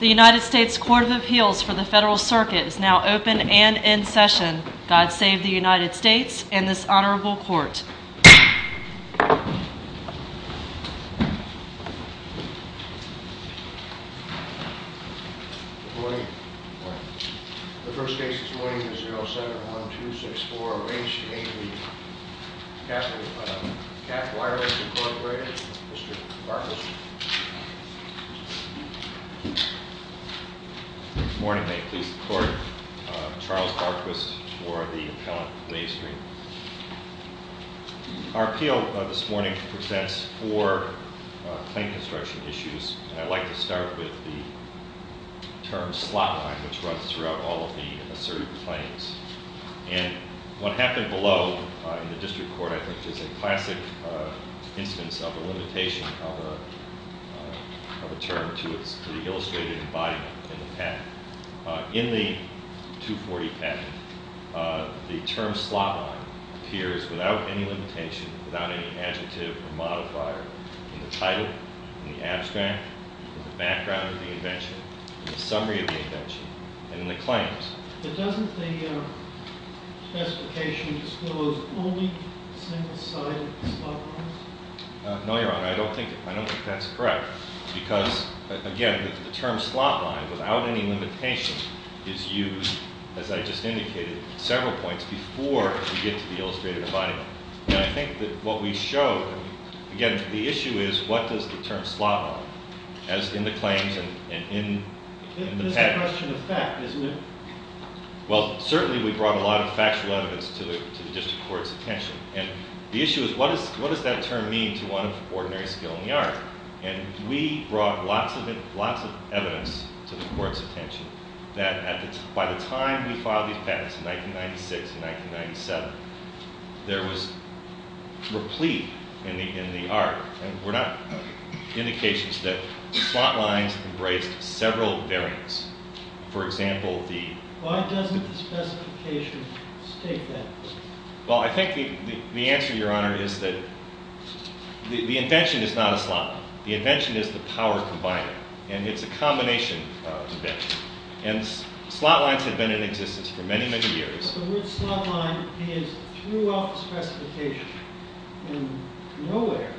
The United States Court of Appeals for the Federal Circuit is now open and in session. God save the United States and this honorable court. The first case this morning is 07-1264 H-80, Cap Wireless Incorporated, Mr. Barquist. Good morning. May it please the court. Charles Barquist for the appellant, Wavestream. Our appeal this morning presents four claim construction issues. And I'd like to start with the term slot line, which runs throughout all of the asserted claims. And what happened below in the district court, I think, is a classic instance of a limitation of a term to the illustrated embodiment in the patent. In the 240 patent, the term slot line appears without any limitation, without any adjective or modifier in the title, in the abstract, in the background of the invention, in the summary of the invention, and in the claims. But doesn't the specification disclose only single-sided slot lines? No, Your Honor. I don't think that's correct. Because, again, the term slot line, without any limitation, is used, as I just indicated, several points before we get to the illustrated embodiment. And I think that what we show, again, the issue is what does the term slot line, as in the claims and in the patent. It's a question of fact, isn't it? Well, certainly we brought a lot of factual evidence to the district court's attention. And the issue is what does that term mean to one of ordinary skill in the art? And we brought lots of evidence to the court's attention that by the time we filed these patents in 1996 and 1997, there was replete in the art. And we're not indications that slot lines embraced several variants. For example, the- Why doesn't the specification state that? Well, I think the answer, Your Honor, is that the invention is not a slot line. The invention is the power combining. And it's a combination of events. And slot lines have been in existence for many, many years. The word slot line is throughout the specification. And nowhere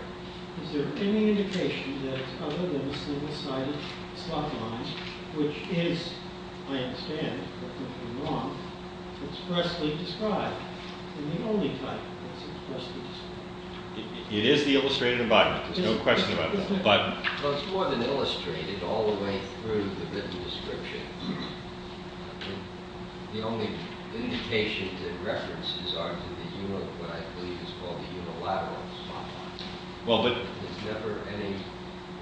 is there any indication that it's other than a single-sided slot line, which is, I understand if I'm not wrong, expressly described. And the only type that's expressly described. It is the illustrated embodiment. There's no question about that. Well, it's more than illustrated all the way through the written description. The only indication that references are to what I believe is called the unilateral slot line. There's never any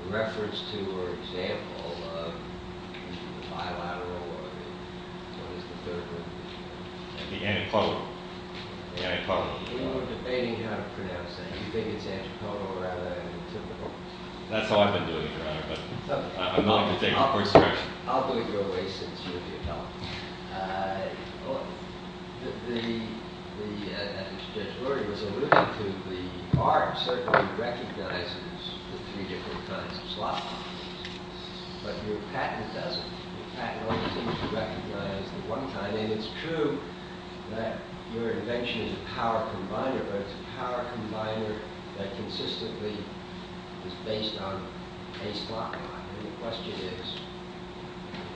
reference to or example of the bilateral or what is the third word? The antipodal. The antipodal. We were debating how to pronounce that. You think it's antipodal rather than antipodal. That's how I've been doing it, Your Honor. But I'm not going to take the first direction. I'll do it your way, since you're the adult. As Judge Lurie was alluding to, the art certainly recognizes the three different kinds of slot lines. But your patent doesn't. Your patent only seems to recognize the one kind. And it's true that your invention is a power combiner. But it's a power combiner that consistently is based on a slot line. And the question is,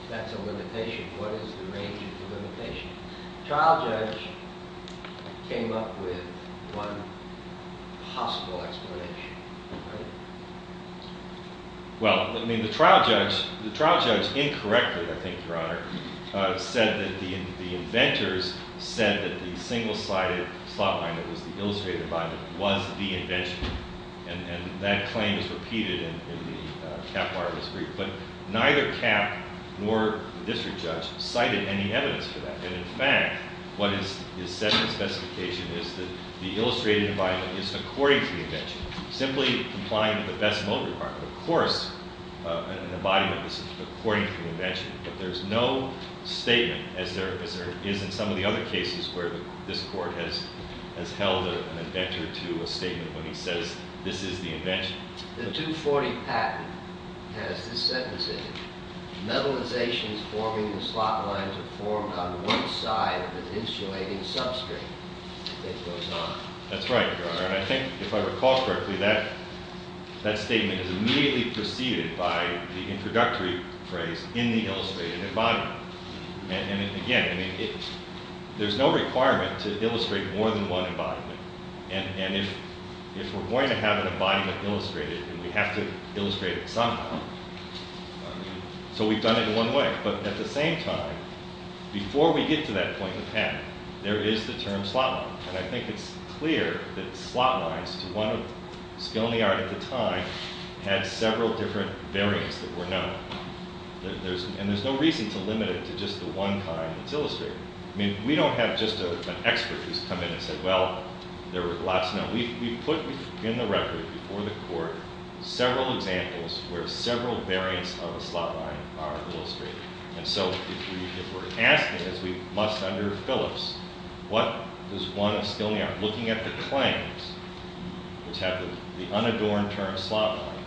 if that's a limitation, what is the range of the limitation? The trial judge came up with one possible explanation. Well, I mean, the trial judge incorrectly, I think, Your Honor, said that the inventors said that the single-sided slot line, that was the illustrated environment, was the invention. And that claim is repeated in the Cap-Martin's brief. But neither Cap nor the district judge cited any evidence for that. And in fact, what is said in the specification is that the illustrated environment is according to the invention. Simply complying with the best mode requirement. Of course, an embodiment is according to the invention. But there's no statement, as there is in some of the other cases where this court has held an inventor to a statement when he says this is the invention. The 240 patent has this sentence in it. Metalizations forming the slot lines are formed on one side of the insulating substrate. It goes on. That's right, Your Honor, and I think if I recall correctly, that statement is immediately preceded by the introductory phrase, in the illustrated environment. And again, there's no requirement to illustrate more than one embodiment. And if we're going to have an embodiment illustrated, then we have to illustrate it somehow. So we've done it one way. And there is the term slot line. And I think it's clear that slot lines, to one skill in the art at the time, had several different variants that were known. And there's no reason to limit it to just the one kind that's illustrated. I mean, we don't have just an expert who's come in and said, well, there were lots known. We've put in the record before the court several examples where several variants of a slot line are illustrated. And so if we're asking, as we must under Phillips, what does one of skill in the art, looking at the claims, which have the unadorned term slot line,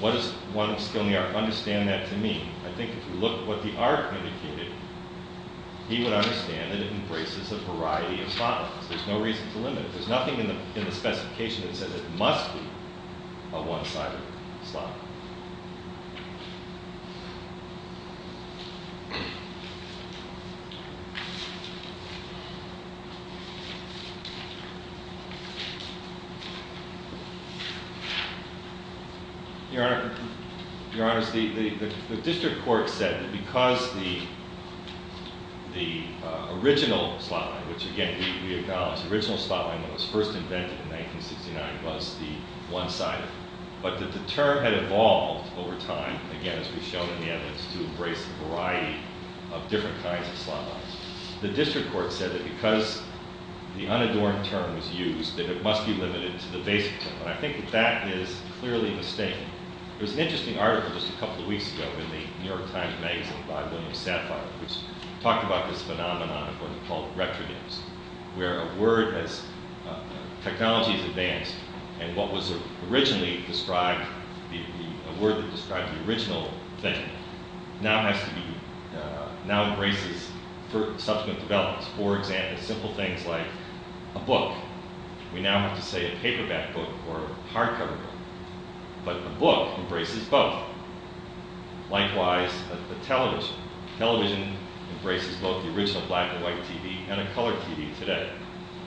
what does one of skill in the art understand that to mean? I think if you look at what the art indicated, he would understand that it embraces a variety of slot lines. There's no reason to limit it. There's nothing in the specification that says it must be a one-sided slot line. Your Honor, the district court said that because the original slot line, which again, we acknowledge, the original slot line that was first invented in 1969 was the one-sided, but that the term had evolved over time, again, as we've shown in the evidence, to embrace a variety of different kinds of slot lines. The district court said that because the unadorned term was used, that it must be limited to the basic term. And I think that that is clearly mistaken. There was an interesting article just a couple of weeks ago in the New York Times Magazine by William Sapphire, which talked about this phenomenon of what are called retro games, where a word has, technology has advanced, and what was originally described, a word that described the original invention now has to be, now embraces subsequent developments. For example, simple things like a book. We now have to say a paperback book or a hardcover book. But a book embraces both. Likewise, a television. Television embraces both the original black and white TV and a color TV today.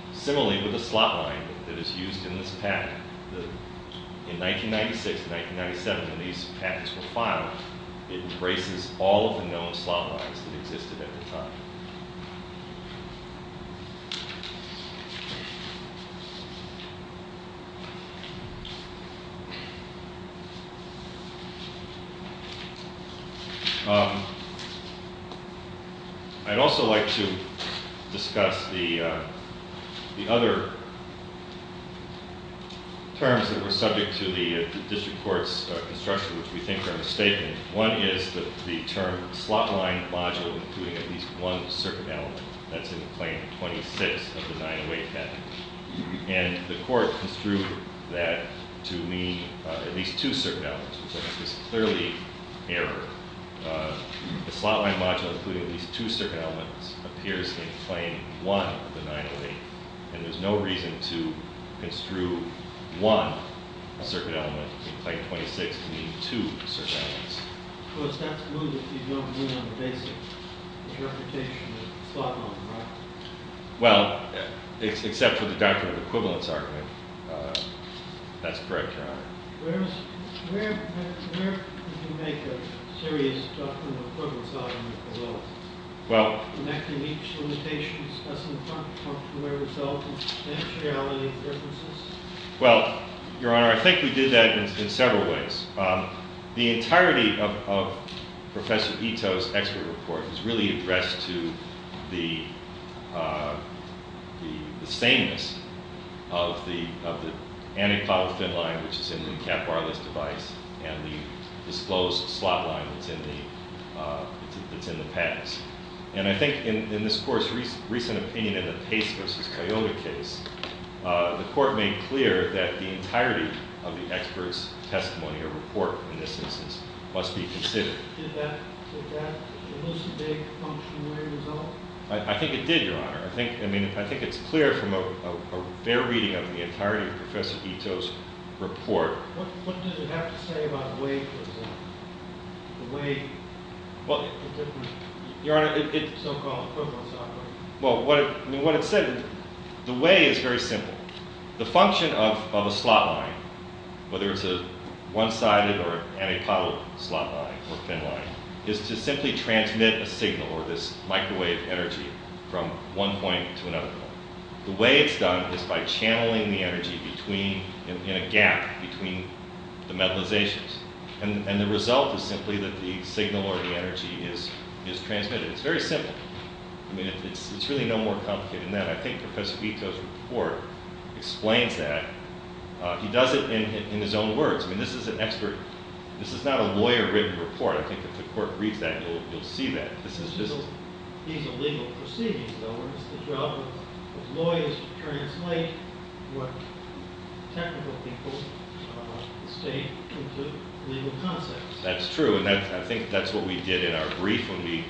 And similarly with the slot line that is used in this patent. In 1996 and 1997, when these patents were filed, it embraces all of the known slot lines that existed at the time. I'd also like to discuss the other terms that were subject to the district court's construction, which we think are mistaken. One is the term slot line module including at least one circuit element. That's in Claim 26 of the 908 patent. And the court construed that to mean at least two circuit elements, which is clearly an error. The slot line module including at least two circuit elements appears in Claim 1 of the 908. And there's no reason to construe one circuit element in Claim 26 to mean two circuit elements. Well, except for the doctrine of equivalence argument. That's correct, Your Honor. Well, Your Honor, I think we did that in several ways. The entirety of Professor Ito's expert report is really addressed to the sameness of the antipodal thin line, which is in the NCAP wireless device, and the disclosed slot line that's in the patents. And I think in this court's recent opinion in the Pace v. Coyote case, the court made clear that the entirety of the expert's testimony or report in this instance must be considered. Did that elucidate a functionary result? I think it did, Your Honor. I think it's clear from a fair reading of the entirety of Professor Ito's report. What does it have to say about weight, for example? The weight, the difference. Your Honor, it's so-called equivalence argument. Well, what it said, the way is very simple. The function of a slot line, whether it's a one-sided or antipodal slot line or thin line, is to simply transmit a signal or this microwave energy from one point to another point. The way it's done is by channeling the energy in a gap between the metallizations. And the result is simply that the signal or the energy is transmitted. It's very simple. I mean, it's really no more complicated than that. I think Professor Ito's report explains that. He does it in his own words. I mean, this is an expert. This is not a lawyer-written report. I think if the court reads that, you'll see that. This is just... These are legal proceedings, though. It's the job of lawyers to translate what technical people state into legal concepts. That's true, and I think that's what we did in our brief when we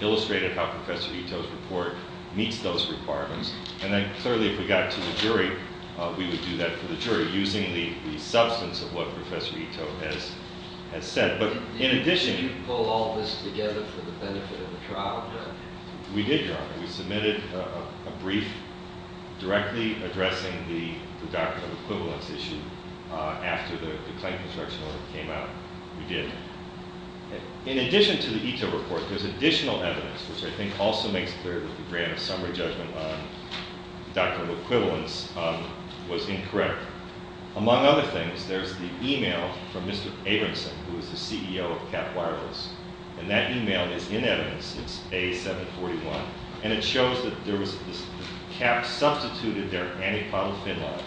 illustrated how Professor Ito's report meets those requirements. And then, clearly, if we got it to the jury, we would do that for the jury, using the substance of what Professor Ito has said. But in addition... Did you pull all this together for the benefit of the trial? We did, Your Honor. We submitted a brief directly addressing the doctrinal equivalence issue after the claim construction order came out. We did. In addition to the Ito report, there's additional evidence, which I think also makes clear that the grant of summary judgment on doctrinal equivalence was incorrect. Among other things, there's the e-mail from Mr. Abramson, who is the CEO of Cap Wireless. And that e-mail is in evidence. It's A741. And it shows that Cap substituted their antipylofin line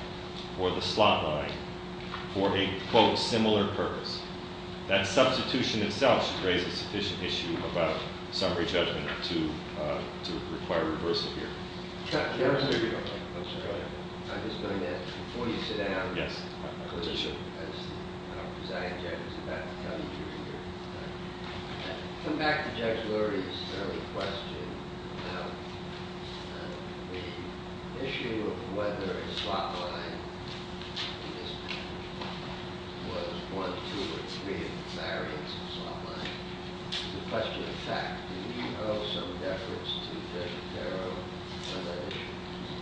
for the slot line for a, quote, similar purpose. That substitution itself should raise a sufficient issue about summary judgment to require reversal here. Your Honor. I'm sorry. I'm just going to ask, before you sit down... Yes. ...as the presiding judge is about to tell you, come back to Judge Lurie's early question. The issue of whether a slot line was one, two, or three variants of slot line, the question in fact, do you owe some deference to Judge Farrell on that issue?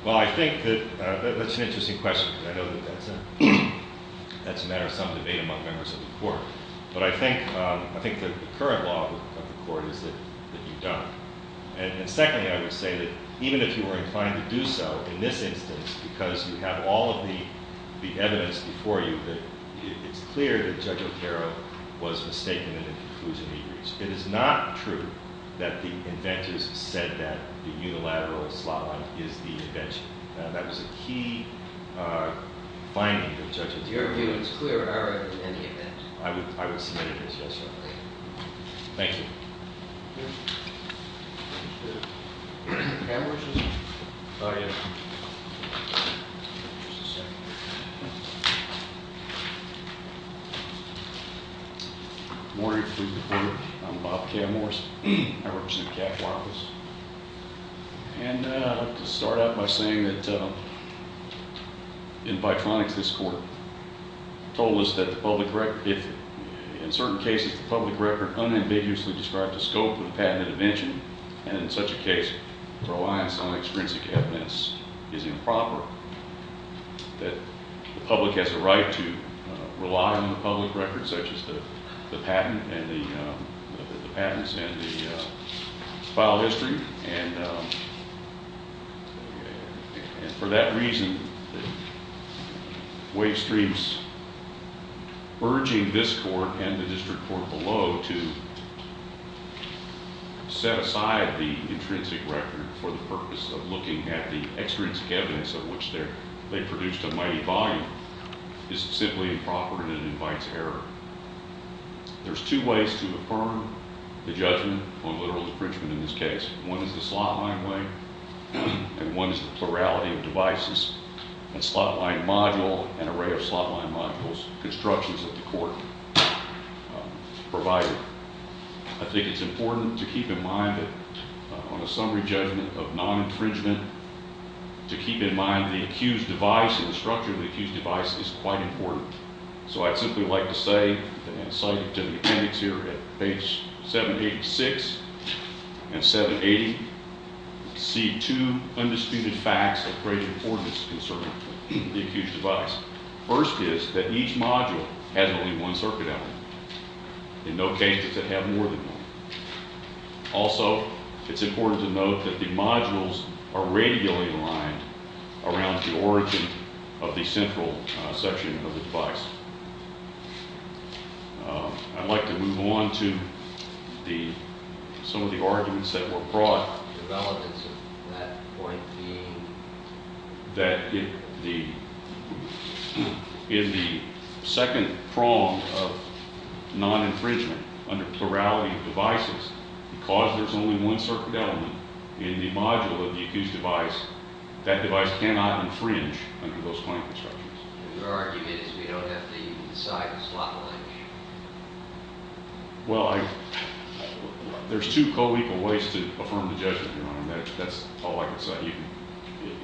Well, I think that that's an interesting question. I know that that's a matter of some debate among members of the Court. But I think the current law of the Court is that you don't. And secondly, I would say that even if you were inclined to do so, in this instance, because you have all of the evidence before you, that it's clear that Judge Otero was mistaken in the conclusion he reached. It is not true that the inventors said that the unilateral slot line is the invention. That was a key finding of Judge Otero. Your view is clearer than any event. I would see that as yes, Your Honor. Thank you. Can we just? Oh, yeah. Just a second. Good morning. I'm Bob Camorris. I represent the CAC Law Office. And I'd like to start out by saying that in Bitronix this quarter, told us that the public record, if in certain cases the public record unambiguously described the scope of the patented invention, and in such a case reliance on extrinsic evidence is improper, that the public has a right to rely on the public record such as the patent and the patents and the file history. And for that reason, Wavestream's urging this court and the district court below to set aside the intrinsic record for the purpose of looking at the extrinsic evidence of which they produced a mighty volume is simply improper and it invites error. There's two ways to affirm the judgment on literal infringement in this case. One is the slot line way and one is the plurality of devices and slot line module and array of slot line modules, constructions that the court provided. I think it's important to keep in mind that on a summary judgment of non-infringement, to keep in mind the accused device and the structure of the accused device is quite important. So I'd simply like to say and cite to the appendix here at page 786 and 780, see two undisputed facts of great importance concerning the accused device. First is that each module has only one circuit element. In no case does it have more than one. Also, it's important to note that the modules are radially aligned around the origin of the central section of the device. I'd like to move on to some of the arguments that were brought. The relevance of that point being? That in the second prong of non-infringement under plurality of devices, because there's only one circuit element in the module of the accused device, that device cannot infringe under those point constructions. Your argument is we don't have to even decide the slot line? Well, there's two co-equal ways to affirm the judgment. That's all I can say. You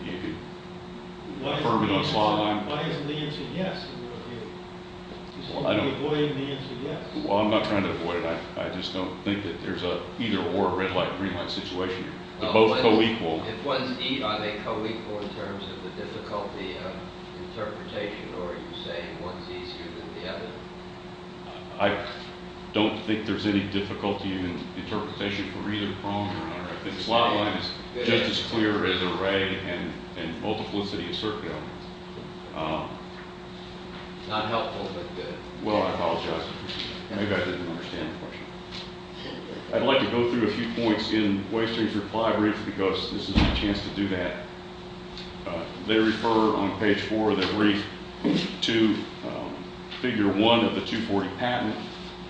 can affirm it on slot line. Why isn't the answer yes in your opinion? You're avoiding the answer yes. Well, I'm not trying to avoid it. I just don't think that there's an either or red light, green light situation. They're both co-equal. Are they co-equal in terms of the difficulty of interpretation, or are you saying one's easier than the other? I don't think there's any difficulty in interpretation for either prong. I think slot line is just as clear as array and multiplicity of circuit elements. Not helpful, but good. Well, I apologize. Maybe I didn't understand the question. I'd like to go through a few points in Wasting's reply brief because this is my chance to do that. They refer on page 4 of their brief to figure 1 of the 240 patent,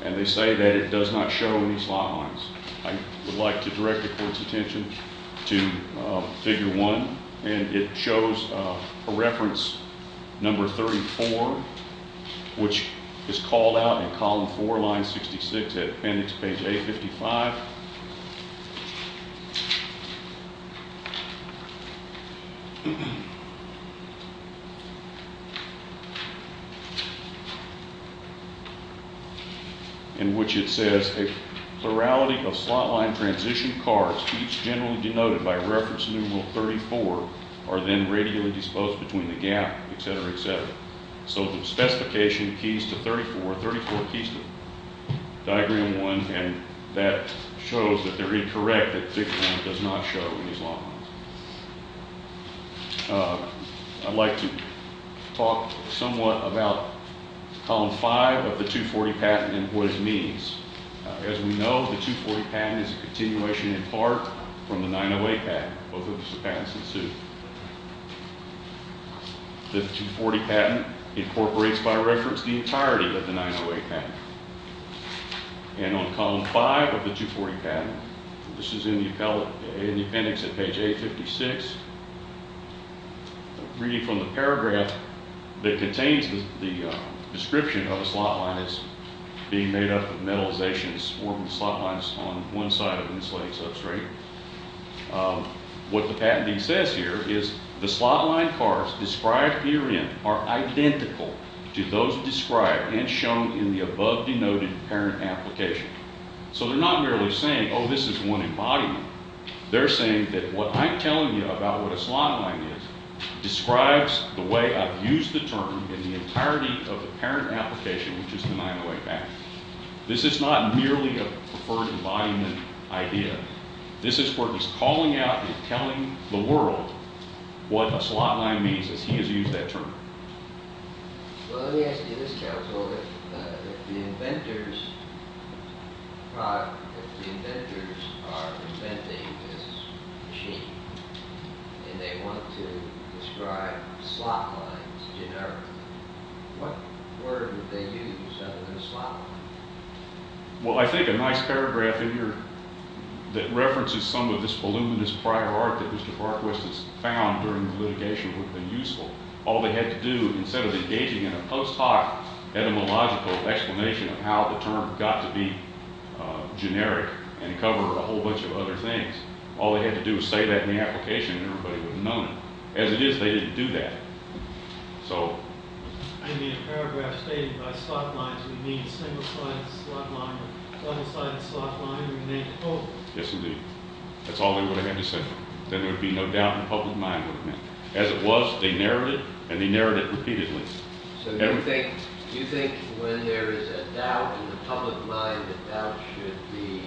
and they say that it does not show any slot lines. I would like to direct the court's attention to figure 1, and it shows a reference, number 34, which is called out in column 4, line 66 at appendix page 855, in which it says a plurality of slot line transition cards, each generally denoted by reference number 34, are then radially disposed between the gap, et cetera, et cetera. So the specification keys to 34, 34 keys to diagram 1, and that shows that they're incorrect, that figure 1 does not show any slot lines. I'd like to talk somewhat about column 5 of the 240 patent and what it means. As we know, the 240 patent is a continuation in part from the 908 patent. Both of those patents ensue. The 240 patent incorporates by reference the entirety of the 908 patent. And on column 5 of the 240 patent, this is in the appendix at page 856, reading from the paragraph that contains the description of a slot line being made up of metalizations forming slot lines on one side of an insulated substrate. What the patentee says here is the slot line cards described herein are identical to those described and shown in the above-denoted parent application. So they're not merely saying, oh, this is one embodiment. They're saying that what I'm telling you about what a slot line is describes the way I've used the term in the entirety of the parent application, which is the 908 patent. This is not merely a preferred embodiment idea. This is where he's calling out and telling the world what a slot line means, as he has used that term. Well, let me ask you this, counsel. If the inventors are inventing this machine and they want to describe slot lines generically, what word would they use other than slot line? Well, I think a nice paragraph in here that references some of this voluminous prior art that Mr. Barquist has found during the litigation would have been useful. All they had to do, instead of engaging in a post-hoc etymological explanation of how the term got to be generic and cover a whole bunch of other things, all they had to do was say that in the application and everybody would have known it. As it is, they didn't do that. I mean a paragraph stating by slot lines we mean single-sided slot line or double-sided slot line or the name of the code. Yes, indeed. That's all they would have had to say. Then there would be no doubt in the public mind what it meant. As it was, they narrowed it and they narrowed it repeatedly. So do you think when there is a doubt in the public mind, the doubt should be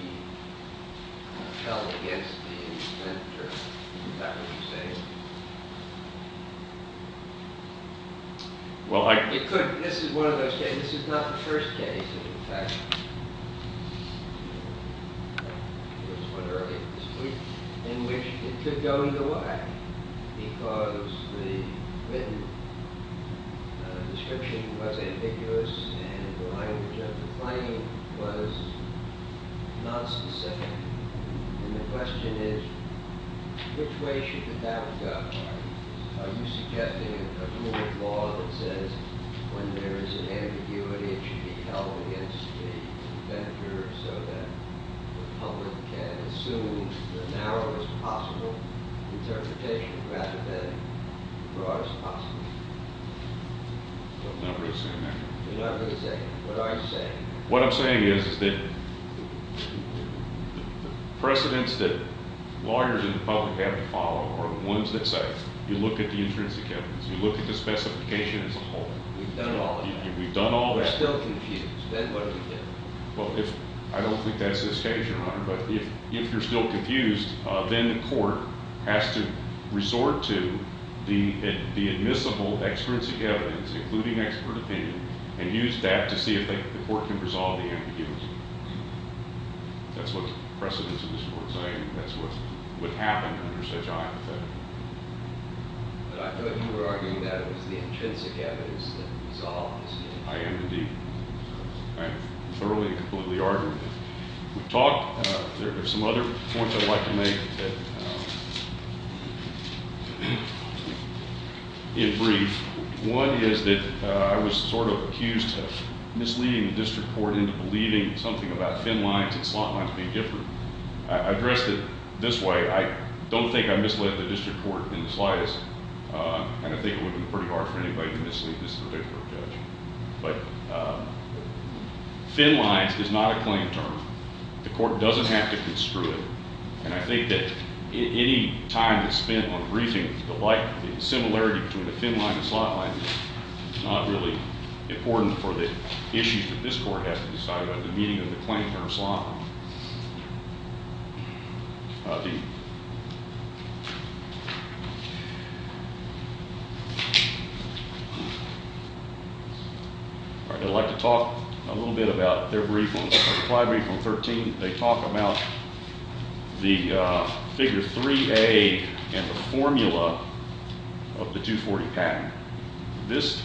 held against the inventor? Is that what you're saying? Well, I... It could. This is one of those cases. This is not the first case, in fact. There was one earlier this week in which it could go either way because the written description was ambiguous and the language of the claim was not specific. And the question is which way should the doubt go? Are you suggesting a rule of law that says when there is an ambiguity, it should be held against the inventor so that the public can assume the narrowest possible interpretation rather than the broadest possible? I'm not really saying that. You're not really saying that. What are you saying? What I'm saying is that the precedents that lawyers in the public have to follow are the ones that say you look at the intrinsic evidence, you look at the specification as a whole. We've done all of that. We've done all that. We're still confused. Then what do we do? Well, I don't think that's this case, Your Honor, but if you're still confused, then the court has to resort to the admissible extrinsic evidence, including expert opinion, and use that to see if the court can resolve the ambiguity. That's what the precedents of this Court are saying. That's what happened under such hypothetical. But I thought you were arguing that it was the intrinsic evidence that resolves the ambiguity. I am indeed. I am thoroughly and completely arguing it. We've talked. There are some other points I'd like to make in brief. One is that I was sort of accused of misleading the district court into believing something about thin lines and slot lines being different. I addressed it this way. I don't think I misled the district court in the slightest, and I think it would have been pretty hard for anybody to mislead this particular judge. But thin lines is not a claim term. The court doesn't have to construe it, and I think that any time that's spent on briefing the similarity between a thin line and a slot line is not really important for the issues that this court has to decide about the meaning of the claim term slot line. All right. I'd like to talk a little bit about their briefing. In Clive Brief Room 13, they talk about the figure 3A and the formula of the 240 pattern. This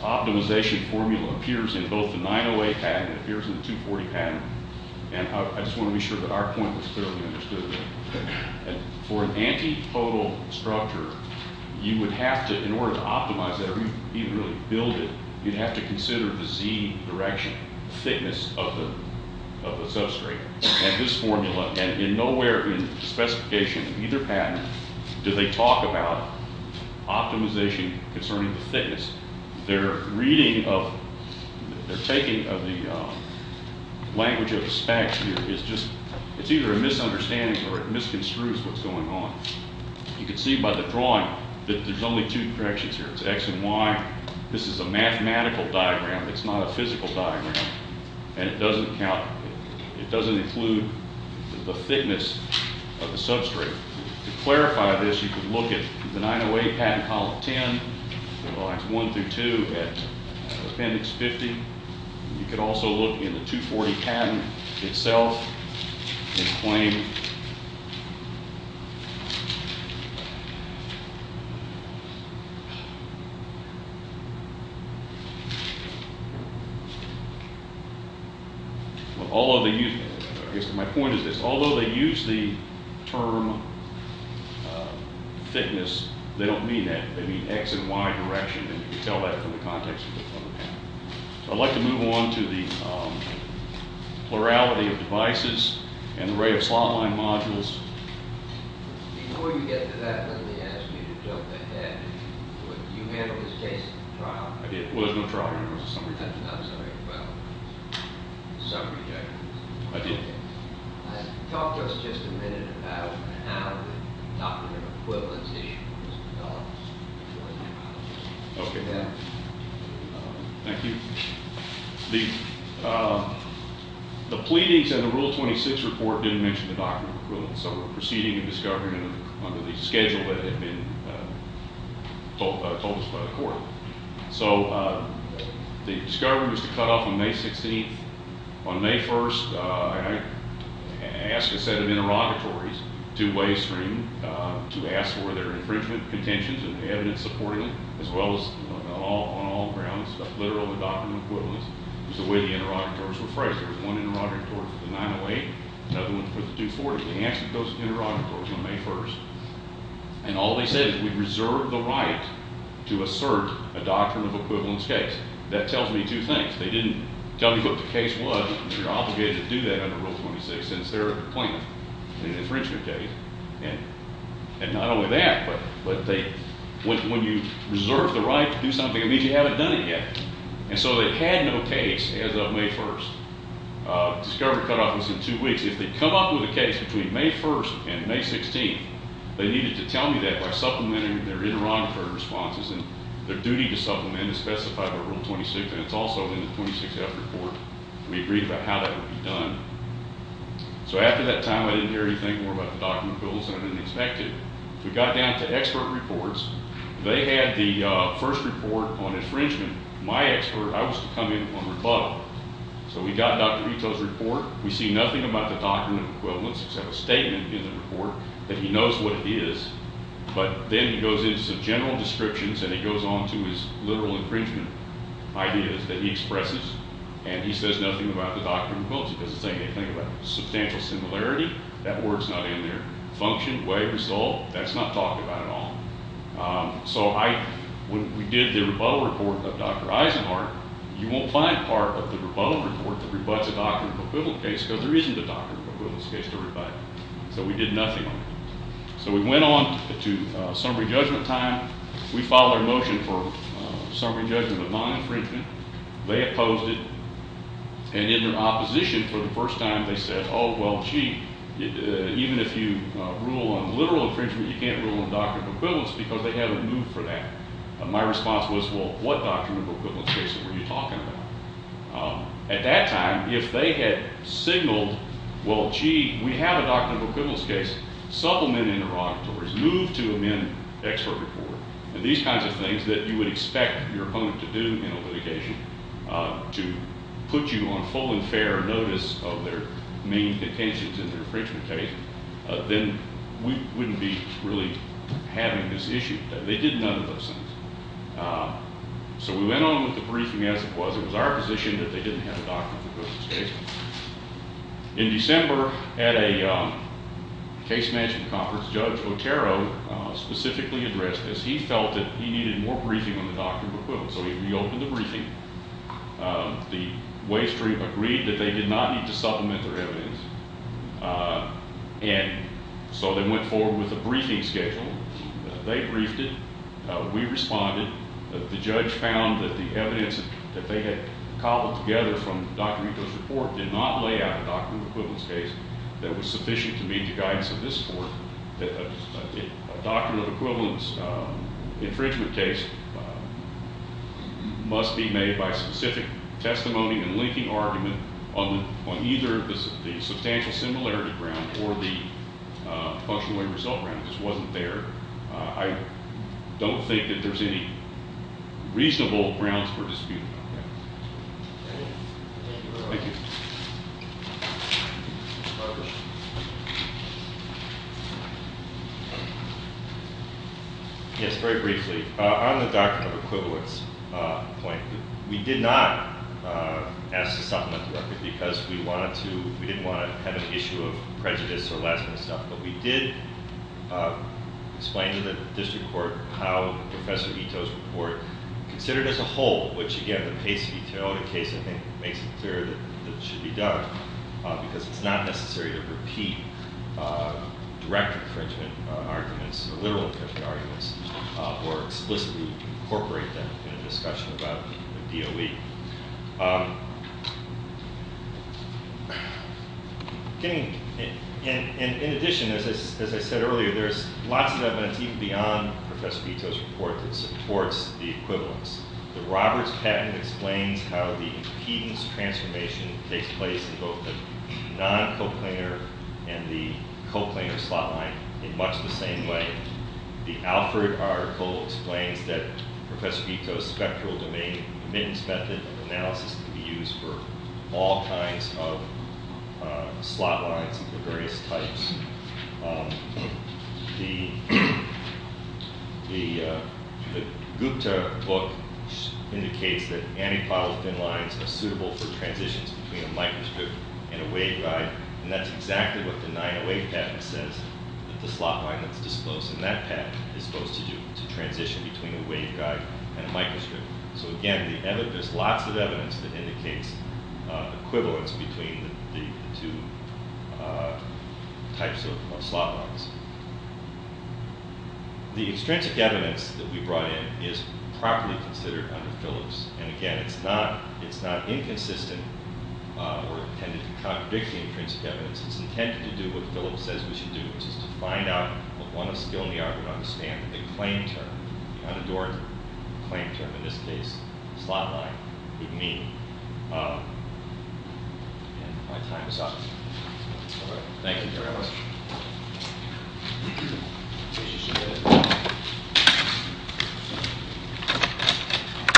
optimization formula appears in both the 908 pattern. It appears in the 240 pattern. And I just want to be sure that our point was clearly understood. For an antipodal structure, you would have to, in order to optimize it or even really build it, you'd have to consider the Z direction, thickness of the substrate. And this formula, and nowhere in the specification of either pattern do they talk about optimization concerning the thickness. Their reading of, their taking of the language of the specs here is just, it's either a misunderstanding or it misconstrues what's going on. You can see by the drawing that there's only two directions here. It's X and Y. This is a mathematical diagram. It's not a physical diagram, and it doesn't count. It doesn't include the thickness of the substrate. To clarify this, you can look at the 908 pattern, column 10, lines 1 through 2 at appendix 50. You could also look in the 240 pattern itself and claim. Although they use, I guess my point is this, although they use the term thickness, they don't mean that. You can tell that from the context of the pattern. I'd like to move on to the plurality of devices and the array of slot line modules. Before you get to that, let me ask you to jump ahead. You handled this case at the trial. I did. Well, there was no trial. I'm sorry. Well, some rejections. I did. Talk to us just a minute about how the Doctrine of Equivalency was developed. Okay. Thank you. The pleadings in the Rule 26 report didn't mention the Doctrine of Equivalency, so we're proceeding in discovery under the schedule that had been told us by the court. So the discovery was to cut off on May 16th. On May 1st, I asked a set of interrogatories, two-way streaming, to ask for their infringement contentions and evidence supporting it, as well as on all grounds, literally the Doctrine of Equivalence. It was the way the interrogators were phrased. There was one interrogator for the 908, another one for the 240. They answered those interrogators on May 1st, and all they said is we reserve the right to assert a Doctrine of Equivalence case. That tells me two things. They didn't tell me what the case was. You're obligated to do that under Rule 26. It's their claim, an infringement case. And not only that, but when you reserve the right to do something, it means you haven't done it yet. And so they had no case as of May 1st. Discovery cut off was in two weeks. If they come up with a case between May 1st and May 16th, they needed to tell me that by supplementing their interrogatory responses, and their duty to supplement is specified by Rule 26, and it's also in the 26th report. We agreed about how that would be done. So after that time, I didn't hear anything more about the Doctrine of Equivalence than I had expected. We got down to expert reports. They had the first report on infringement. My expert, I was to come in on the bottom. So we got Dr. Ito's report. We see nothing about the Doctrine of Equivalence except a statement in the report that he knows what it is. But then he goes into some general descriptions, and he goes on to his literal infringement. My idea is that he expresses, and he says nothing about the Doctrine of Equivalence. He doesn't say anything about substantial similarity. That word's not in there. Function, way, result, that's not talked about at all. So when we did the rebuttal report of Dr. Eisenhardt, you won't find part of the rebuttal report that rebuts a Doctrine of Equivalence case because there isn't a Doctrine of Equivalence case to rebut. So we did nothing on it. So we went on to summary judgment time. We filed our motion for summary judgment of non-infringement. They opposed it. And in their opposition, for the first time, they said, oh, well, gee, even if you rule on literal infringement, you can't rule on Doctrine of Equivalence because they haven't moved for that. My response was, well, what Doctrine of Equivalence case were you talking about? At that time, if they had signaled, well, gee, we have a Doctrine of Equivalence case, supplement interrogatories, move to amend expert report, and these kinds of things that you would expect your opponent to do in a litigation to put you on full and fair notice of their main intentions in the infringement case, then we wouldn't be really having this issue. They did none of those things. So we went on with the briefing as it was. It was our position that they didn't have a Doctrine of Equivalence case. In December, at a case management conference, Judge Otero specifically addressed this. He felt that he needed more briefing on the Doctrine of Equivalence, so he reopened the briefing. The Wave Street agreed that they did not need to supplement their evidence, and so they went forward with a briefing schedule. They briefed it. We responded. The judge found that the evidence that they had cobbled together from Dr. Ito's report did not lay out a Doctrine of Equivalence case that was sufficient to meet the guidance of this court, that a Doctrine of Equivalence infringement case must be made by specific testimony and linking argument on either the substantial similarity ground or the functionally result ground. This wasn't there. I don't think that there's any reasonable grounds for disputing on that. Thank you. Yes, very briefly. On the Doctrine of Equivalence point, we did not ask to supplement the record because we didn't want to have an issue of prejudice or last-minute stuff, but we did explain to the district court how Professor Ito's report considered as a whole, which, again, the Pace v. Toyota case, I think, makes it clear that it should be done because it's not necessary to repeat direct infringement arguments or literal infringement arguments or explicitly incorporate them in a discussion about the DOE. In addition, as I said earlier, there's lots of evidence even beyond Professor Ito's report that supports the equivalence. The Roberts patent explains how the impedance transformation takes place in both the non-coplanar and the coplanar slot line in much the same way. The Alfred article explains that Professor Ito's spectral domain admittance method and analysis can be used for all kinds of slot lines of various types. The Gupta book indicates that antipodal thin lines are suitable for transitions between a microstrip and a waveguide, and that's exactly what the 908 patent says, that the slot line that's disclosed in that patent is supposed to do, to transition between a waveguide and a microstrip. So again, there's lots of evidence that indicates equivalence between the two types of slot lines. The extrinsic evidence that we brought in is properly considered under Phillips, and again, it's not inconsistent or intended to contradict the extrinsic evidence. It's intended to do what Phillips says we should do, which is to find out what one of skill in the art would understand the claim term, the unadorned claim term, in this case, slot line, would mean. And my time is up. Thank you very much.